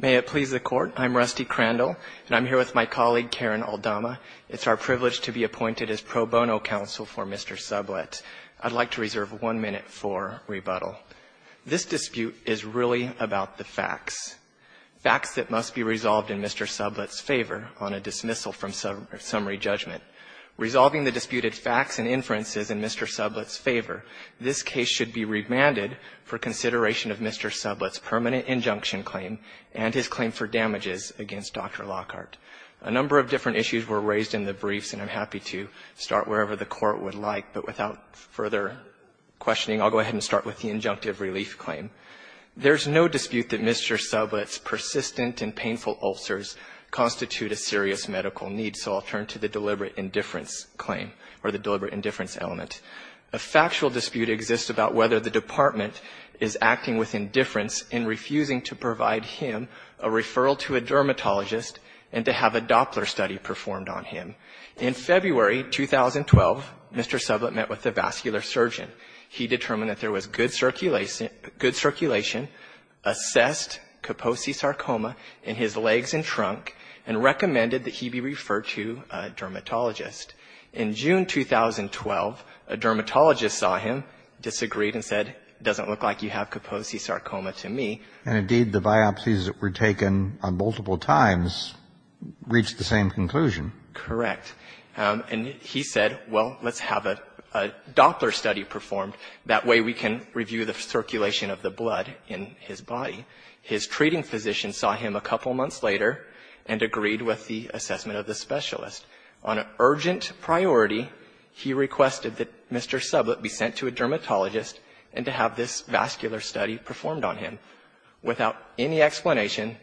May it please the Court. I'm Rusty Crandall, and I'm here with my colleague, Karen Aldama. It's our privilege to be appointed as pro bono counsel for Mr. Sublett. I'd like to reserve one minute for rebuttal. This dispute is really about the facts, facts that must be resolved in Mr. Sublett's favor on a dismissal from summary judgment. Resolving the disputed facts and inferences in Mr. Sublett's favor, this case should be remanded for consideration of Mr. Sublett's permanent injunction claim and his claim for damages against Dr. Lockhart. A number of different issues were raised in the briefs, and I'm happy to start wherever the Court would like. But without further questioning, I'll go ahead and start with the injunctive relief claim. There is no dispute that Mr. Sublett's persistent and painful ulcers constitute a serious medical need, so I'll turn to the deliberate indifference claim or the deliberate indifference element. A factual dispute exists about whether the Department is acting with indifference in refusing to provide him a referral to a dermatologist and to have a Doppler study performed on him. In February 2012, Mr. Sublett met with a vascular surgeon. He determined that there was good circulation, assessed Kaposi's sarcoma in his legs and trunk, and recommended that he be referred to a dermatologist. In June 2012, a dermatologist saw him, disagreed and said, it doesn't look like you have Kaposi's sarcoma to me. And indeed, the biopsies that were taken on multiple times reached the same conclusion. Correct. And he said, well, let's have a Doppler study performed. That way we can review the circulation of the blood in his body. His treating physician saw him a couple of months later and agreed with the assessment of the specialist. On an urgent priority, he requested that Mr. Sublett be sent to a dermatologist and to have this vascular study performed on him. Without any explanation,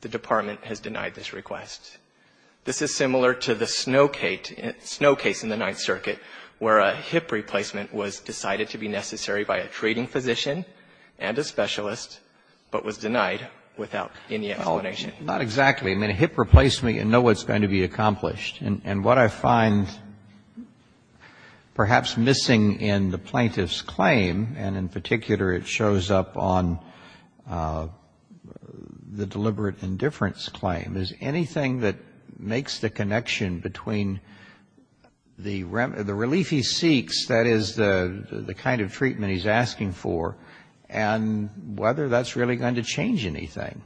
the Department has denied this request. This is similar to the Snow case in the Ninth Circuit, where a hip replacement was decided to be necessary by a treating physician and a specialist, but was denied without any explanation. Not exactly. I mean, a hip replacement, you know it's going to be accomplished. And what I find perhaps missing in the plaintiff's claim, and in particular it shows up on the deliberate indifference claim, is anything that makes the connection between the relief he seeks, that is the kind of treatment he's asking for, and whether that's really going to change anything.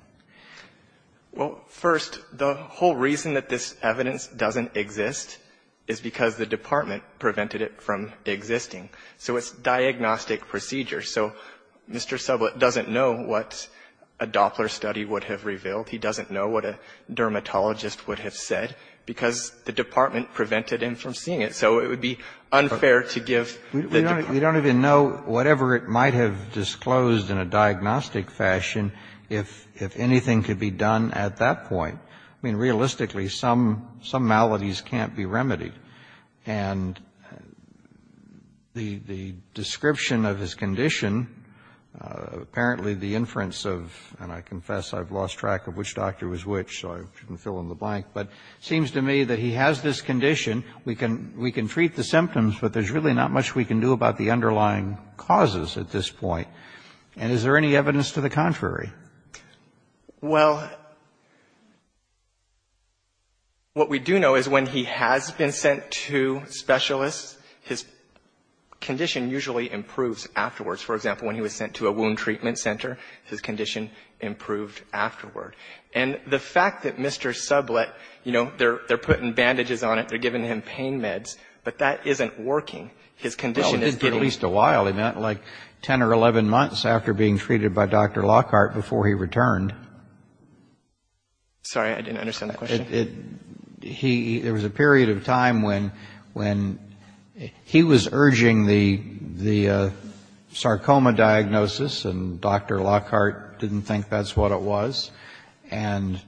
Well, first, the whole reason that this evidence doesn't exist is because the Department prevented it from existing. So it's diagnostic procedure. So Mr. Sublett doesn't know what a Doppler study would have revealed. He doesn't know what a dermatologist would have said, because the Department prevented him from seeing it. So it would be unfair to give the Department. I mean, I know whatever it might have disclosed in a diagnostic fashion, if anything could be done at that point. I mean, realistically, some maladies can't be remedied. And the description of his condition, apparently the inference of, and I confess I've lost track of which doctor was which, so I shouldn't fill in the blank, but it seems to me that he has this condition. We can treat the symptoms, but there's really not much we can do about the underlying causes at this point. And is there any evidence to the contrary? Well, what we do know is when he has been sent to specialists, his condition usually improves afterwards. For example, when he was sent to a wound treatment center, his condition improved afterward. And the fact that Mr. Sublett, you know, they're putting bandages on it, they're giving him pain meds, but that isn't working. His condition is getting better. Well, it did for at least a while. It meant like 10 or 11 months after being treated by Dr. Lockhart before he returned. Sorry, I didn't understand that question. There was a period of time when he was urging the sarcoma diagnosis, and Dr. Lockhart didn't think that's what it was. And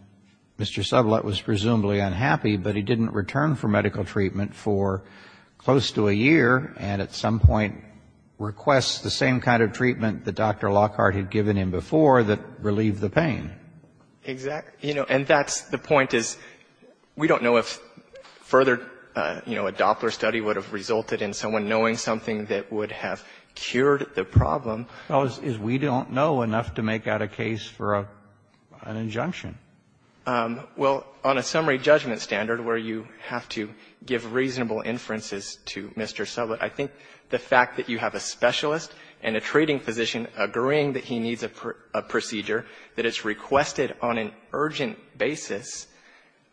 Mr. Sublett was presumably unhappy, but he didn't return for medical treatment for close to a year, and at some point requests the same kind of treatment that Dr. Lockhart had given him before that relieved the pain. Exactly. You know, and that's the point is, we don't know if further, you know, a Doppler study would have resulted in someone knowing something that would have cured the problem. Well, is we don't know enough to make out a case for an injunction? Well, on a summary judgment standard where you have to give reasonable inferences to Mr. Sublett, I think the fact that you have a specialist and a treating physician agreeing that he needs a procedure that is requested on an urgent basis,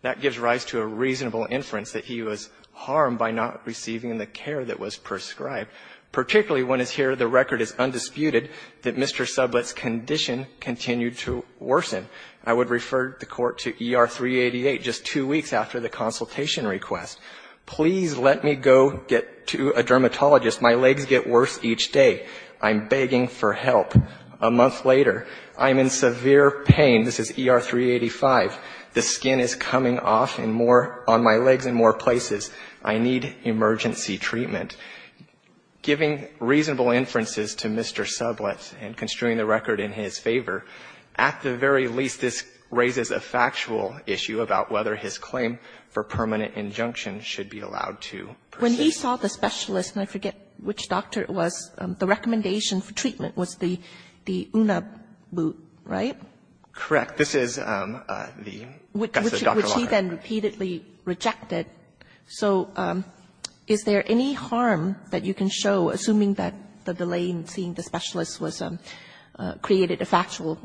that gives rise to a reasonable inference that he was harmed by not receiving the care that was prescribed. Particularly when it's here, the record is undisputed that Mr. Sublett's condition continued to worsen. I would refer the court to ER 388 just two weeks after the consultation request. Please let me go get to a dermatologist. My legs get worse each day. I'm begging for help. A month later, I'm in severe pain. This is ER 385. The skin is coming off in more, on my legs in more places. I need emergency treatment. Giving reasonable inferences to Mr. Sublett and construing the record in his favor, at the very least, this raises a factual issue about whether his claim for permanent injunction should be allowed to proceed. When he saw the specialist, and I forget which doctor it was, the recommendation for treatment was the UNABU, right? Correct. This is the Justice Dr. Longhurst. He then repeatedly rejected. So is there any harm that you can show, assuming that the delay in seeing the specialist was created a factual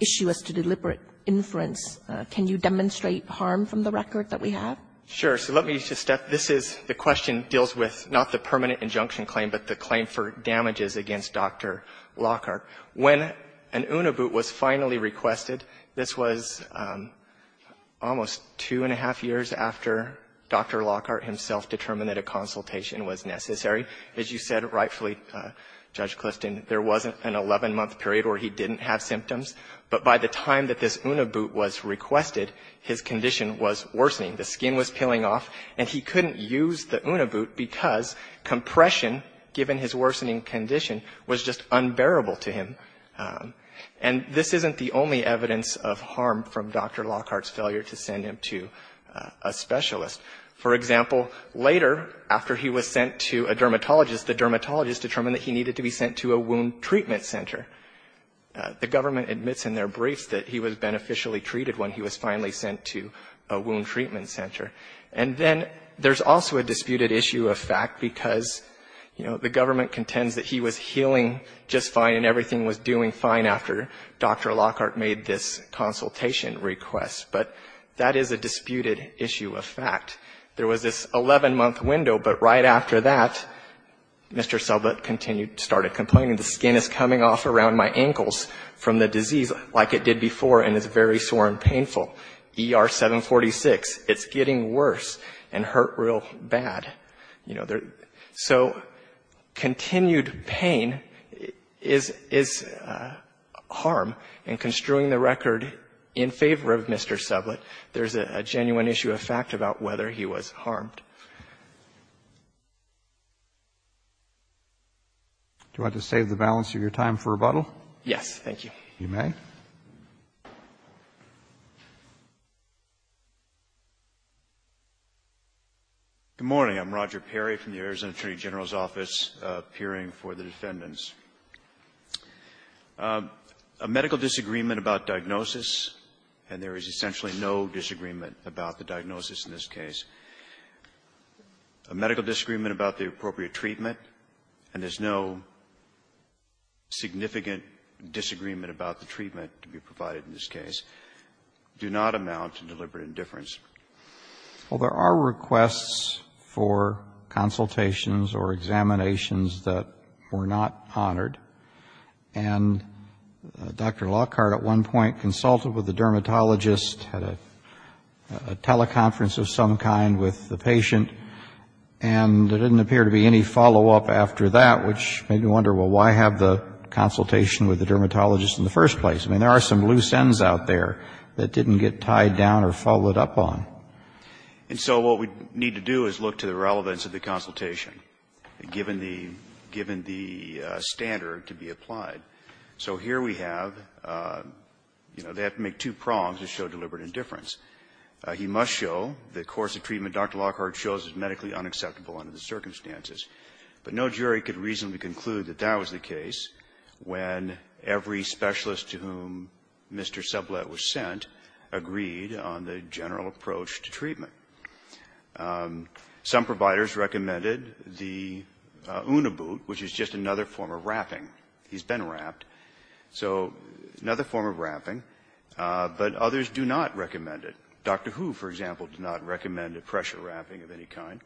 issue as to deliberate inference? Can you demonstrate harm from the record that we have? Sure. So let me just step. This is the question deals with not the permanent injunction claim, but the claim for damages against Dr. Longhurst. When an UNABU was finally requested, this was almost two and a half years after Dr. Lockhart himself determined that a consultation was necessary. As you said rightfully, Judge Clifton, there wasn't an 11-month period where he didn't have symptoms. But by the time that this UNABU was requested, his condition was worsening. The skin was peeling off, and he couldn't use the UNABU because compression, given his worsening condition, was just unbearable to him. And this isn't the only evidence of harm from Dr. Lockhart's failure to send him to a specialist. For example, later, after he was sent to a dermatologist, the dermatologist determined that he needed to be sent to a wound treatment center. The government admits in their briefs that he was beneficially treated when he was finally sent to a wound treatment center. And then there's also a disputed issue of fact, because, you know, the government contends that he was healing just fine, and everything was doing fine after Dr. Lockhart made this consultation request. But that is a disputed issue of fact. There was this 11-month window, but right after that, Mr. Sublett continued, started complaining, the skin is coming off around my ankles from the disease like it did before, and it's very sore and painful. ER 746, it's getting worse and hurt real bad. You know, so continued pain is harm. And construing the record in favor of Mr. Sublett, there's a genuine issue of fact about whether he was harmed. Do I have to save the balance of your time for rebuttal? Yes, thank you. You may. Roger Perry, Arizona Attorney General's Office, appearing for the defendants. A medical disagreement about diagnosis, and there is essentially no disagreement about the diagnosis in this case. A medical disagreement about the appropriate treatment, and there's no significant disagreement about the treatment to be provided in this case, do not amount to deliberate indifference. Well, there are requests for consultations or examinations that were not honored. And Dr. Lockhart at one point consulted with the dermatologist, had a teleconference of some kind with the patient, and there didn't appear to be any follow-up after that, which made me wonder, well, why have the consultation with the dermatologist in the first place? I mean, there are some loose ends out there that didn't get tied down or followed up on. And so what we need to do is look to the relevance of the consultation, given the standard to be applied. So here we have, you know, they have to make two prongs to show deliberate indifference. He must show the course of treatment Dr. Lockhart chose is medically unacceptable under the circumstances. But no jury could reasonably conclude that that was the case when every specialist to whom Mr. Sublette was sent agreed on the general approach to treatment. Some providers recommended the Uniboot, which is just another form of wrapping. He's been wrapped. So another form of wrapping, but others do not recommend it. Dr. Hu, for example, did not recommend a pressure wrapping of any kind.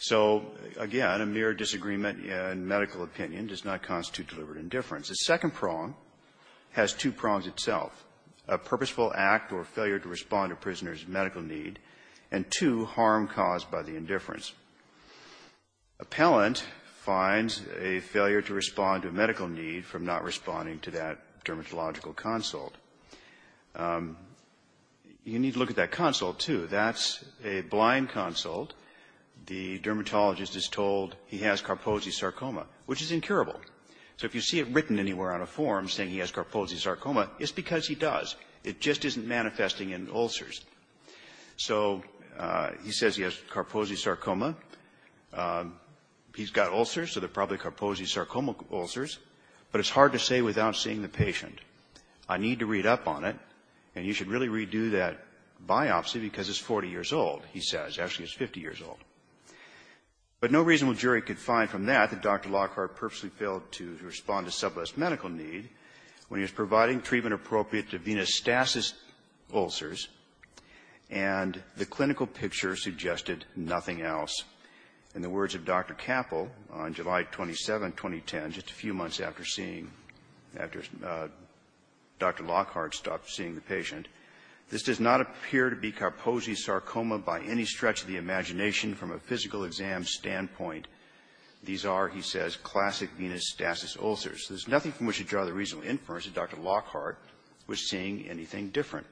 So, again, a mere disagreement in medical opinion does not constitute deliberate indifference. The second prong has two prongs itself, a purposeful act or failure to respond to prisoners' medical need, and two, harm caused by the indifference. Appellant finds a failure to respond to a medical need from not responding to that dermatological consult. You need to look at that consult, too. If that's a blind consult, the dermatologist is told he has carpose sarcoma, which is incurable. So if you see it written anywhere on a form saying he has carpose sarcoma, it's because he does. It just isn't manifesting in ulcers. So he says he has carpose sarcoma. He's got ulcers, so they're probably carpose sarcoma ulcers, but it's hard to say without seeing the patient. I need to read up on it, and you should really redo that biopsy because it's 40 years old, he says. Actually, it's 50 years old. But no reasonable jury could find from that that Dr. Lockhart purposely failed to respond to some of this medical need when he was providing treatment appropriate to venous stasis ulcers, and the clinical picture suggested nothing else. In the words of Dr. Capple on July 27, 2010, just a few months after seeing, after Dr. Lockhart stopped seeing the patient, this does not appear to be carpose sarcoma by any stretch of the imagination from a physical exam standpoint. These are, he says, classic venous stasis ulcers. There's nothing from which to draw the reasonable inference that Dr. Lockhart was seeing anything different.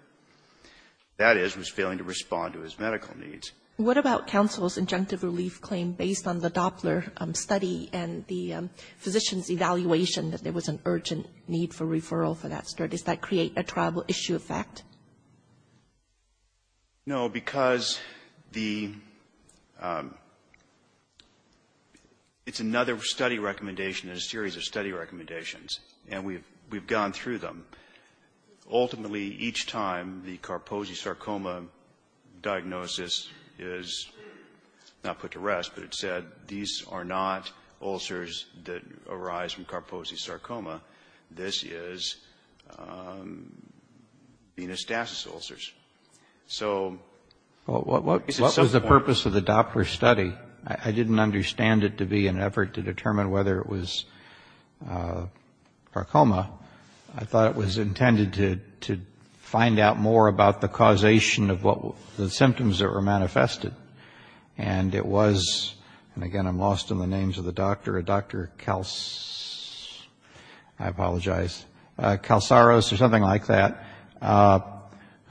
That is, was failing to respond to his medical needs. What about counsel's injunctive relief claim based on the Doppler study and the physician's evaluation that there was an urgent need for referral for that study? Does that create a tribal issue effect? No, because the, it's another study recommendation in a series of study recommendations, and we've gone through them. Ultimately, each time the carpose sarcoma diagnosis is not put to rest, but it's said these are not ulcers that arise from carpose sarcoma. This is venous stasis ulcers. So, it's a simple one. Well, what was the purpose of the Doppler study? I didn't understand it to be an effort to determine whether it was carcoma. I thought it was intended to find out more about the causation of what, the symptoms that were manifested. And it was, and again, I'm lost in the names of the doctor, Dr. Kalsaros, or something like that,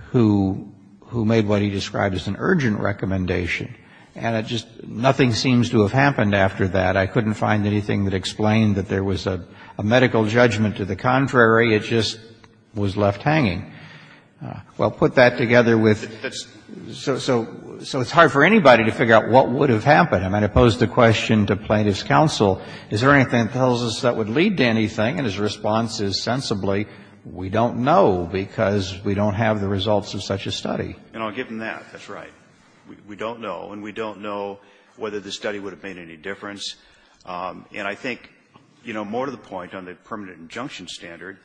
who made what he described as an urgent recommendation, and it just, nothing seems to have happened after that. I couldn't find anything that explained that there was a medical judgment. To the contrary, it just was left hanging. Well, put that together with, so it's hard for anybody to figure out what would have happened. I mean, I pose the question to Plaintiff's counsel, is there anything that tells us that would lead to anything? And his response is sensibly, we don't know, because we don't have the results of such a study. And I'll give him that. That's right. We don't know, and we don't know whether the study would have made any difference. And I think, you know, more to the point, on the permanent injunction standard,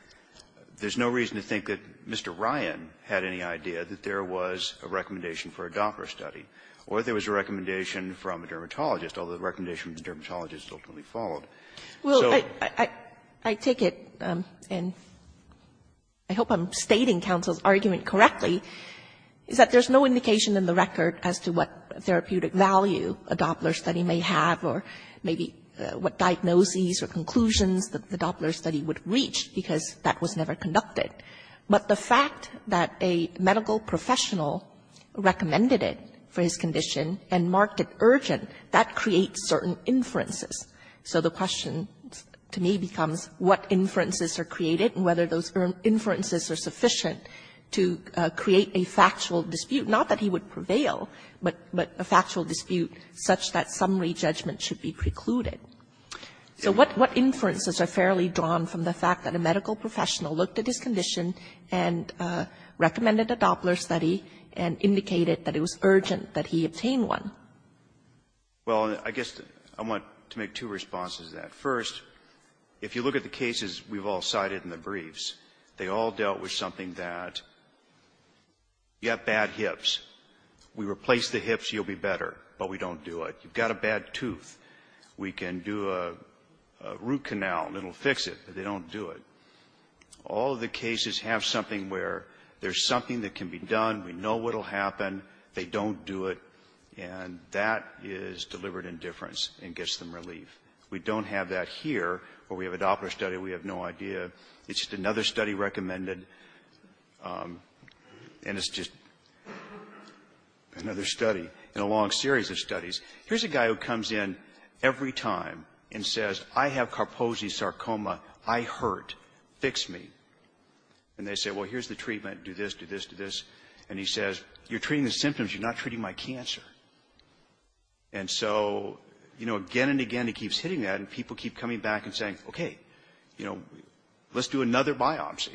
there's no reason to think that Mr. Ryan had any idea that there was a recommendation for a Doppler study, or there was a recommendation from a dermatologist, although the recommendation of the dermatologist ultimately followed. So I take it, and I hope I'm stating counsel's argument correctly, is that there's no indication in the record as to what therapeutic value a Doppler study may have, or maybe what diagnoses or conclusions that the Doppler study would reach, because that was never conducted. But the fact that a medical professional recommended it for his condition and marked it urgent, that creates certain inferences. So the question to me becomes what inferences are created and whether those inferences are sufficient to create a factual dispute, not that he would prevail, but a factual dispute such that summary judgment should be precluded. So what inferences are fairly drawn from the fact that a medical professional looked at his condition and recommended a Doppler study and indicated that it was urgent that he obtain one? Well, I guess I want to make two responses to that. First, if you look at the cases we've all cited in the briefs, they all dealt with something that you have bad hips. We replace the hips, you'll be better, but we don't do it. You've got a bad tooth. We can do a root canal and it'll fix it, but they don't do it. All of the cases have something where there's something that can be done, we know what'll happen, they don't do it, and that is deliberate indifference and gets them relief. We don't have that here, where we have a Doppler study, we have no idea. It's just another study recommended, and it's just another study in a long series of studies. Here's a guy who comes in every time and says, I have carpose sarcoma, I hurt, fix me. And they say, well, here's the treatment, do this, do this, do this. And he says, you're treating the symptoms, you're not treating my cancer. And so, you know, again and again he keeps hitting that, and people keep coming back and saying, okay, you know, let's do another biopsy.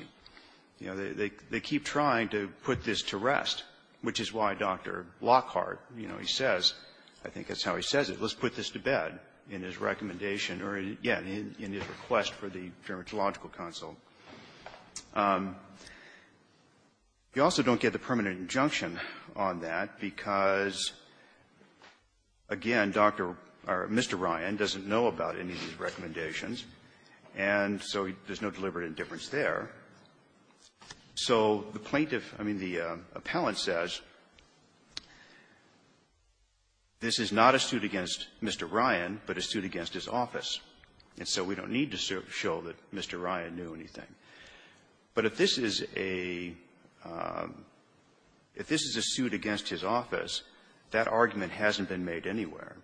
You know, they keep trying to put this to rest, which is why Dr. Lockhart, you know, he says, I think that's how he says it, let's put this to bed in his recommendation or, yeah, in his request for the dermatological consult. He also don't get the permanent injunction on that because, again, Dr. or Mr. Ryan doesn't know about any of these recommendations, and so there's no deliberate indifference there. So the plaintiff or the appellant says, you know, I have a carpose sarcoma, I hurt, fix me. This is not a suit against Mr. Ryan, but a suit against his office. And so we don't need to show that Mr. Ryan knew anything. But if this is a – if this is a suit against his office, that argument hasn't been made anywhere.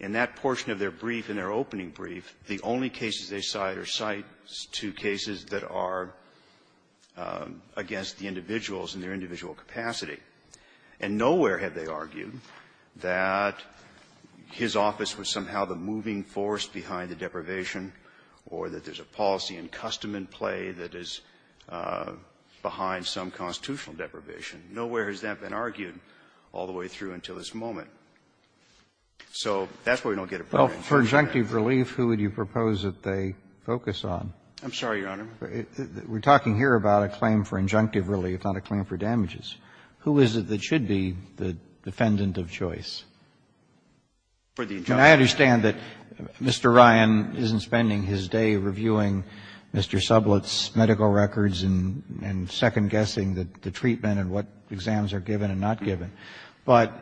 In that portion of their brief, in their opening brief, the only cases they cite are sites to cases that are against the individuals in their individual capacity. And nowhere have they argued that his office was somehow the moving force behind the deprivation or that there's a policy in custom and play that is behind some constitutional deprivation. Nowhere has that been argued all the way through until this moment. So that's why we don't get a permanent injunction. Roberts. Well, for injunctive relief, who would you propose that they focus on? I'm sorry, Your Honor. We're talking here about a claim for injunctive relief, not a claim for damages. Who is it that should be the defendant of choice? I understand that Mr. Ryan isn't spending his day reviewing Mr. Sublett's medical records and second-guessing the treatment and what exams are given and not given. But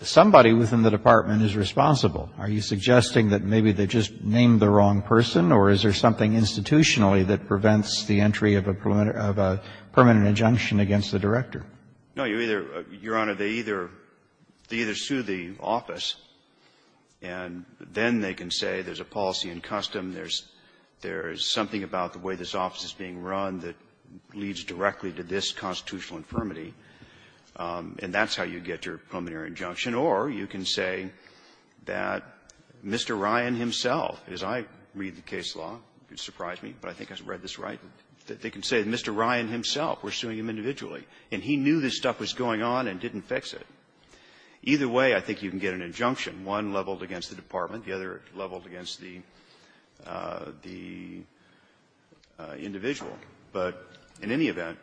somebody within the department is responsible. Are you suggesting that maybe they just named the wrong person, or is there something institutionally that prevents the entry of a permanent injunction against the director? No. You either, Your Honor, they either sue the office, and then they can say there's a policy in custom, there's something about the way this office is being run that leads directly to this constitutional infirmity, and that's how you get your preliminary injunction. Or you can say that Mr. Ryan himself, as I read the case law, it surprised me, but I think I read this right, that they can say Mr. Ryan himself, we're suing him individually, and he knew this stuff was going on and didn't fix it. Either way, I think you can get an injunction. One leveled against the department. The other leveled against the individual. But in any event,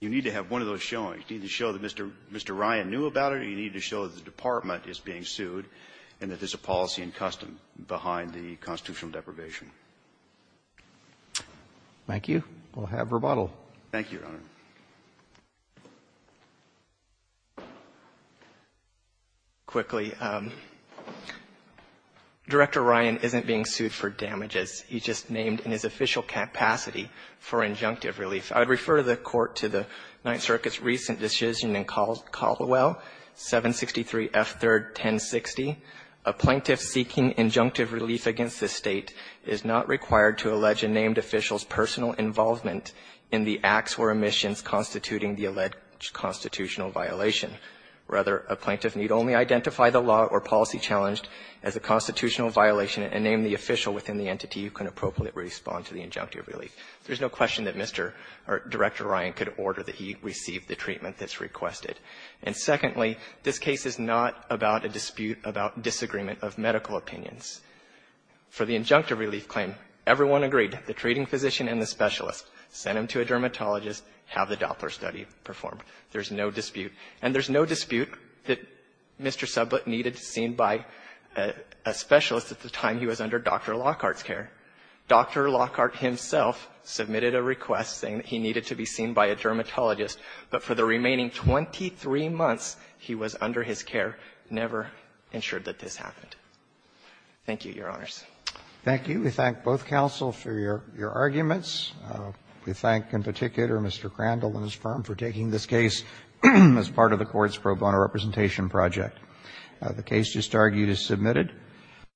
you need to have one of those showings. You need to show that Mr. Ryan knew about it, or you need to show that the department is being sued and that there's a policy in custom behind the constitutional deprivation. Thank you. We'll have rebuttal. Thank you, Your Honor. Quickly. Director Ryan isn't being sued for damages. He's just named in his official capacity for injunctive relief. I would refer the Court to the Ninth Circuit's recent decision in Caldwell, 763 F. 3rd. 1060, a plaintiff seeking injunctive relief against this State is not required to allege a named official's personal involvement in the acts or omissions constituting the alleged constitutional violation. Rather, a plaintiff need only identify the law or policy challenged as a constitutional violation and name the official within the entity who can appropriately respond to the injunctive relief. There's no question that Mr. or Director Ryan could order that he receive the treatment that's requested. And secondly, this case is not about a dispute about disagreement of medical opinions. For the injunctive relief claim, everyone agreed, the treating physician and the specialist, send him to a dermatologist, have the Doppler study performed. There's no dispute. And there's no dispute that Mr. Sublett needed to be seen by a specialist at the time he was under Dr. Lockhart's care. Dr. Lockhart himself submitted a request saying that he needed to be seen by a dermatologist, but for the remaining 23 months he was under his care, never ensured that this happened. Thank you, Your Honors. Roberts. Thank you. We thank both counsel for your arguments. We thank in particular Mr. Crandall and his firm for taking this case as part of the Court's pro bono representation project. The case just argued is submitted.